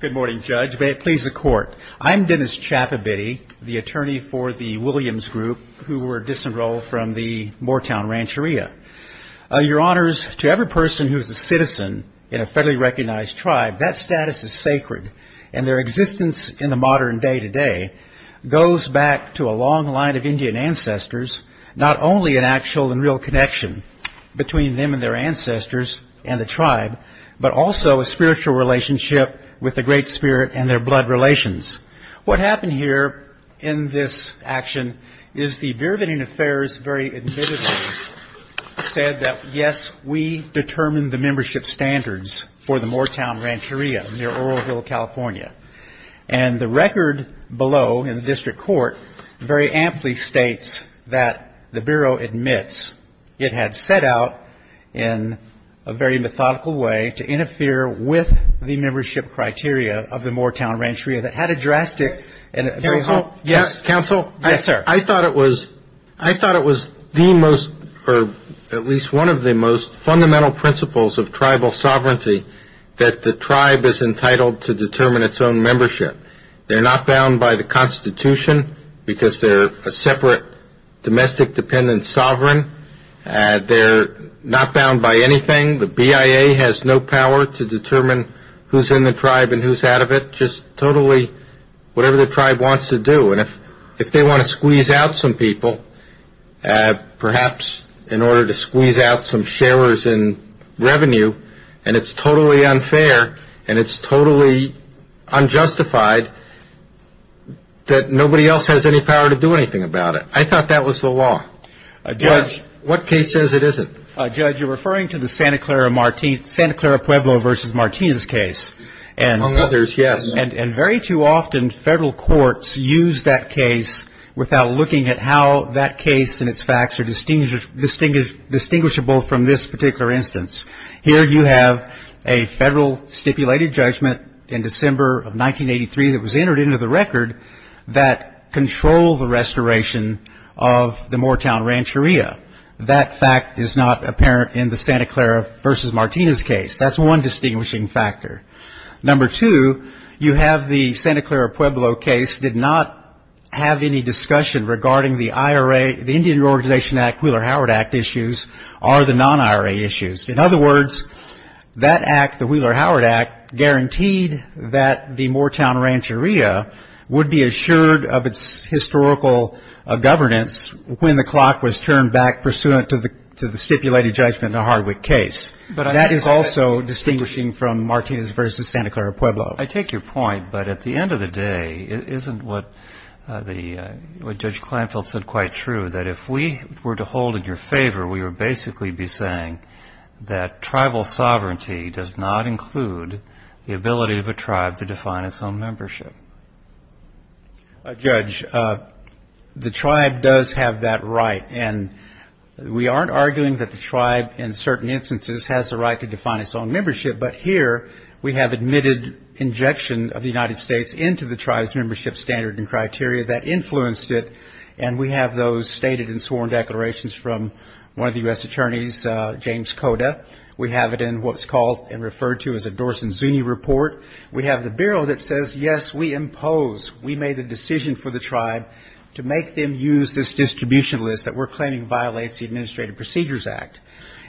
Good morning, Judge. May it please the Court. I'm Dennis Chappabitty, the attorney for the Williams Group who were disenrolled from the Moortown Rancheria. Your Honors, to every person who is a citizen in a federally recognized tribe, that status is sacred, and their existence in the modern day-to-day goes back to a long line of Indian ancestors, not only an actual and real connection between them and their ancestors and the tribe, but also a spiritual relationship with the Great Spirit and their blood relations. What happened here in this action is the Bereavening Affairs very admittedly said that, yes, we had set out, in a very methodical way, to interfere with the membership criteria of the Moortown Rancheria that had a drastic and a very... Counsel? Yes, sir. I thought it was the most, or at least one of the most, fundamental principles of tribal own membership. They're not bound by the Constitution because they're a separate domestic dependent sovereign. They're not bound by anything. The BIA has no power to determine who's in the tribe and who's out of it. Just totally whatever the tribe wants to do. And if they want to squeeze out some people, perhaps in order to squeeze out some sharers in the tribe, it's totally unjustified that nobody else has any power to do anything about it. I thought that was the law. Judge? What case says it isn't? Judge, you're referring to the Santa Clara Pueblo versus Martinez case. Among others, yes. And very too often federal courts use that case without looking at how that case and its facts are distinguishable from this particular instance. Here you have a federal stipulated judgment in December of 1983 that was entered into the record that controlled the restoration of the Moortown Rancheria. That fact is not apparent in the Santa Clara versus Martinez case. That's one distinguishing factor. Number two, you have the Santa Clara Pueblo case did not have any discussion regarding the IRA, the non-IRA issues. In other words, that act, the Wheeler-Howard Act, guaranteed that the Moortown Rancheria would be assured of its historical governance when the clock was turned back pursuant to the stipulated judgment in the Hardwick case. That is also distinguishing from Martinez versus Santa Clara Pueblo. I take your point, but at the end of the day, isn't what Judge Kleinfeld said quite true, that if we were to hold in your favor, we would basically be saying that tribal sovereignty does not include the ability of a tribe to define its own membership? Judge, the tribe does have that right, and we aren't arguing that the tribe in certain instances has the right to define its own membership, but here we have admitted injection of the United States into the tribe's membership standard and criteria that we're claiming violates the Administrative Procedures Act.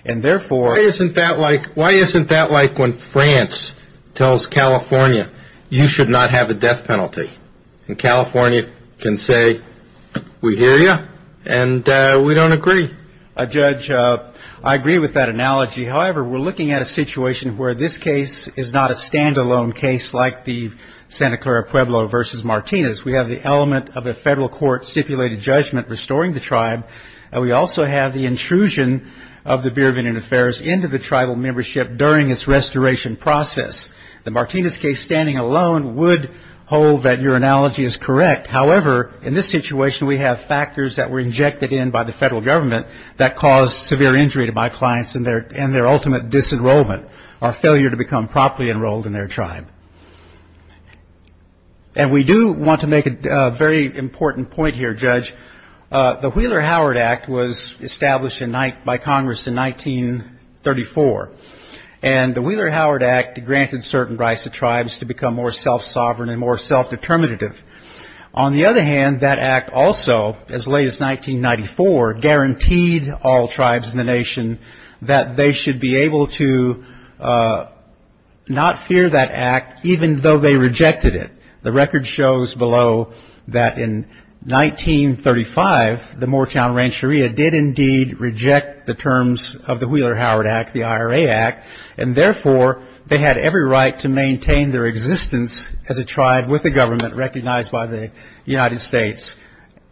And therefore, why isn't that like when France tells California, you should not have a death penalty, and California can say, we hear you, and we don't agree. Judge, I agree with that analogy. However, we're looking at a situation where this case is not a standalone case like the Santa Clara Pueblo versus Martinez. We have the element of a federal court stipulated judgment restoring the tribe, and we also have the intrusion of the Bureau of Indian Affairs into the tribal membership during its restoration process. The Martinez case standing alone would hold that your analogy is correct. However, in this situation, we have factors that were injected in by the tribe that caused severe injury to my clients and their ultimate disenrollment or failure to become properly enrolled in their tribe. And we do want to make a very important point here, Judge. The Wheeler-Howard Act was established by Congress in 1934, and the Wheeler-Howard Act granted certain rights to tribes to become more self-sovereign and more self-determinative. On the other hand, that Act also, as late as 1994, guaranteed all tribes in the nation that they should be able to not fear that Act, even though they rejected it. The record shows below that in 1935, the Moortown Rancheria did indeed reject the terms of the Wheeler-Howard Act, the IRA Act, and therefore, they had every right to maintain their existence as a tribe with a government recognized by the United States.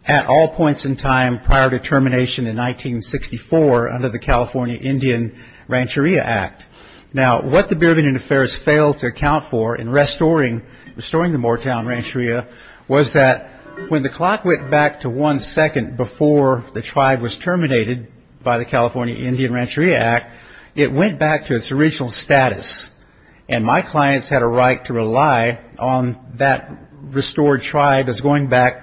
At all points in time prior to termination in 1964 under the California Indian Rancheria Act. Now, what the Bureau of Indian Affairs failed to account for in restoring the Moortown Rancheria was that when the clock went back to one second before the tribe was terminated by the California Indian Rancheria Act, it went back to its original status. And my clients had a right to rely on that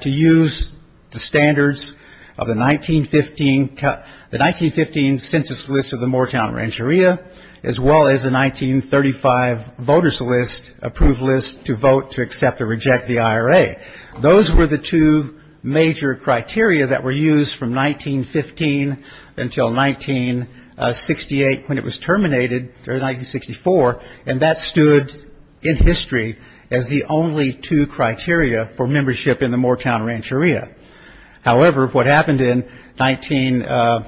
to use the standards of the 1915 census list of the Moortown Rancheria, as well as the 1935 voters list, approved list, to vote to accept or reject the IRA. Those were the two major criteria that were used from 1915 until 1968 when it was terminated during 1964, and that stood in history as the only two criteria for membership in the Moortown Rancheria. However, what happened in 19,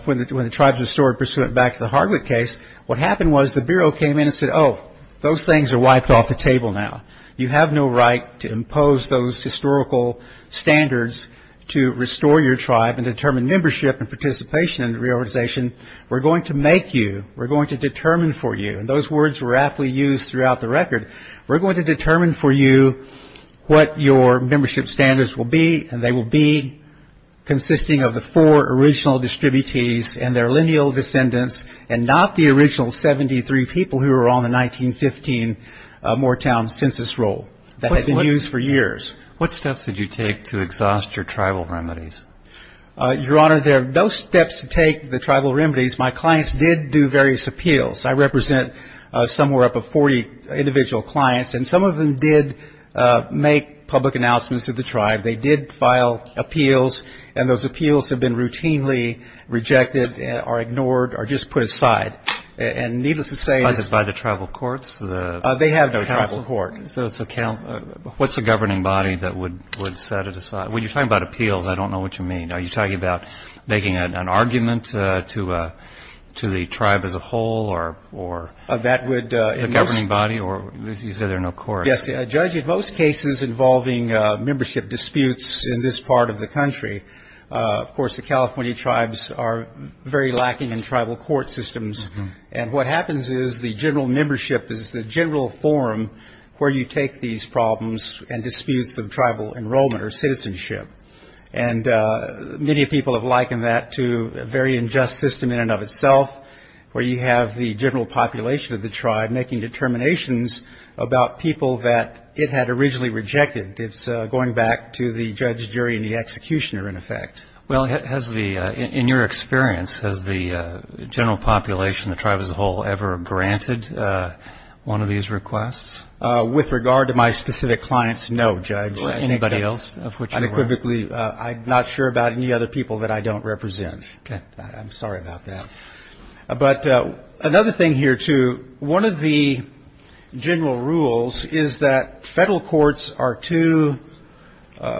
when the tribes restored pursuant back to the Hardwick case, what happened was the Bureau came in and said, oh, those things are wiped off the table now. You have no right to impose those historical standards to restore your tribe and determine membership and participation in the reorganization. We're going to make you, we're going to determine for you, and those words were aptly used throughout the record, we're going to determine for you what your membership standards will be and they will be consisting of the four original distributees and their lineal descendants and not the original 73 people who were on the 1915 Moortown census roll that had been used for years. What steps did you take to exhaust your tribal remedies? Your Honor, there are no steps to take the tribal remedies. My clients did do various appeals. I represent somewhere up of 40 individual clients, and some of them did make public announcements to the tribe. They did file appeals, and those appeals have been routinely rejected or ignored or just put aside. And needless to say... By the tribal courts? They have no tribal court. What's the governing body that would set it aside? When you're talking about appeals, I don't know what you mean. Are you talking about making an appeal? Yes, a judge in most cases involving membership disputes in this part of the country. Of course, the California tribes are very lacking in tribal court systems, and what happens is the general membership is the general forum where you take these problems and disputes of tribal enrollment or citizenship. And many people have likened that to a very unjust system in and of itself, where you have the general population of the tribe and it's not about people that it had originally rejected, it's going back to the judge jury and the executioner, in effect. Well, in your experience, has the general population, the tribe as a whole, ever granted one of these requests? With regard to my specific clients, no, Judge. I'm not sure about any other people that I don't represent. I'm sorry about that. But another thing here, too, one of the general rules is that federal courts are too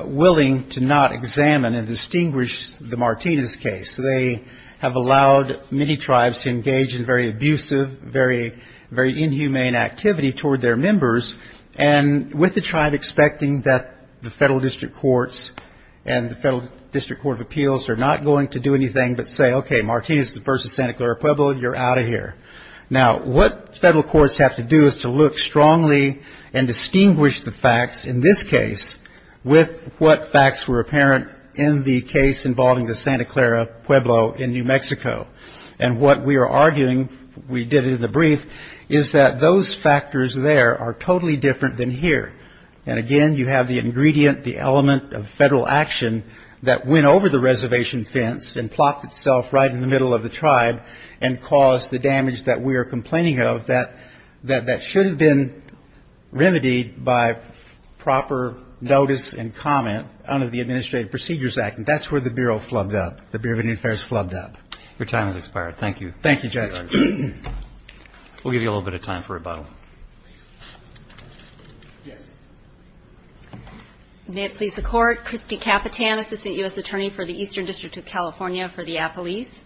willing to not examine and distinguish the Martinez case. They have allowed many tribes to engage in very abusive, very inhumane activity toward their members, and with the tribe expecting that the federal district courts and the federal district court of appeals are not going to do anything but say, okay, this is the first of Santa Clara Pueblo, you're out of here. Now, what federal courts have to do is to look strongly and distinguish the facts in this case with what facts were apparent in the case involving the Santa Clara Pueblo in New Mexico. And what we are arguing, we did it in the brief, is that those factors there are totally different than here. And, again, you have the ingredient, the element of federal action that went over the reservation fence and plopped itself right in the middle of the tribe and caused the damage that we are complaining of that should have been remedied by proper notice and comment under the Administrative Procedures Act. And that's where the Bureau flubbed up, the Bureau of Interest flubbed up. Your time has expired. Thank you. Thank you, Judge. We'll give you a little bit of time for rebuttal. Yes. May it please the Court. Christy Capitan, Assistant U.S. Attorney for the Eastern District of California for the Appalachians.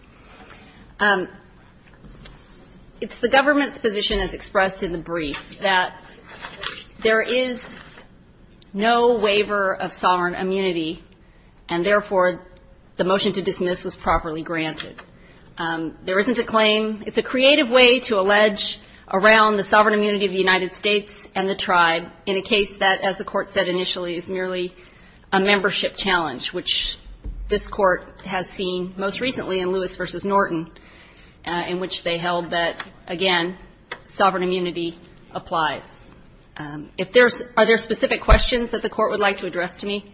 It's the government's position, as expressed in the brief, that there is no waiver of sovereign immunity, and, therefore, the motion to dismiss was properly granted. There isn't a claim. It's a creative way to allege around the sovereign immunity clause that the sovereign immunity of the United States and the tribe, in a case that, as the Court said initially, is merely a membership challenge, which this Court has seen most recently in Lewis v. Norton, in which they held that, again, sovereign immunity applies. If there's other specific questions that the Court would like to address to me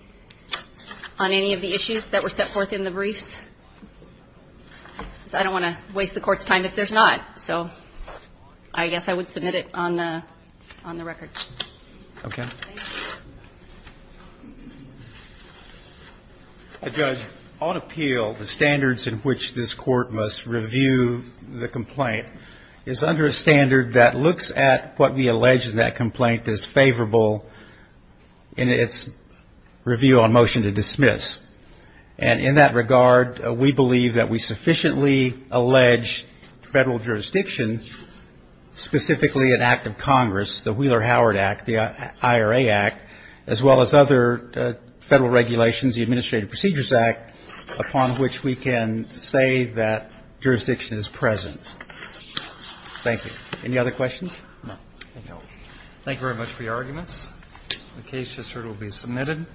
on any of the issues that were set forth in the briefs? I don't want to waste the Court's time if there's not. So I guess I would submit it on the record. Judge, on appeal, the standards in which this Court must review the complaint is under a standard that looks at what we allege that that complaint is favorable in its review on motion to dismiss. And in that regard, we would like to hear from the Court whether or not we believe that we sufficiently allege Federal jurisdiction, specifically an act of Congress, the Wheeler-Howard Act, the IRA Act, as well as other Federal regulations, the Administrative Procedures Act, upon which we can say that jurisdiction is present. Thank you. Any other questions? Thank you very much for your arguments. The case, just heard, will be submitted.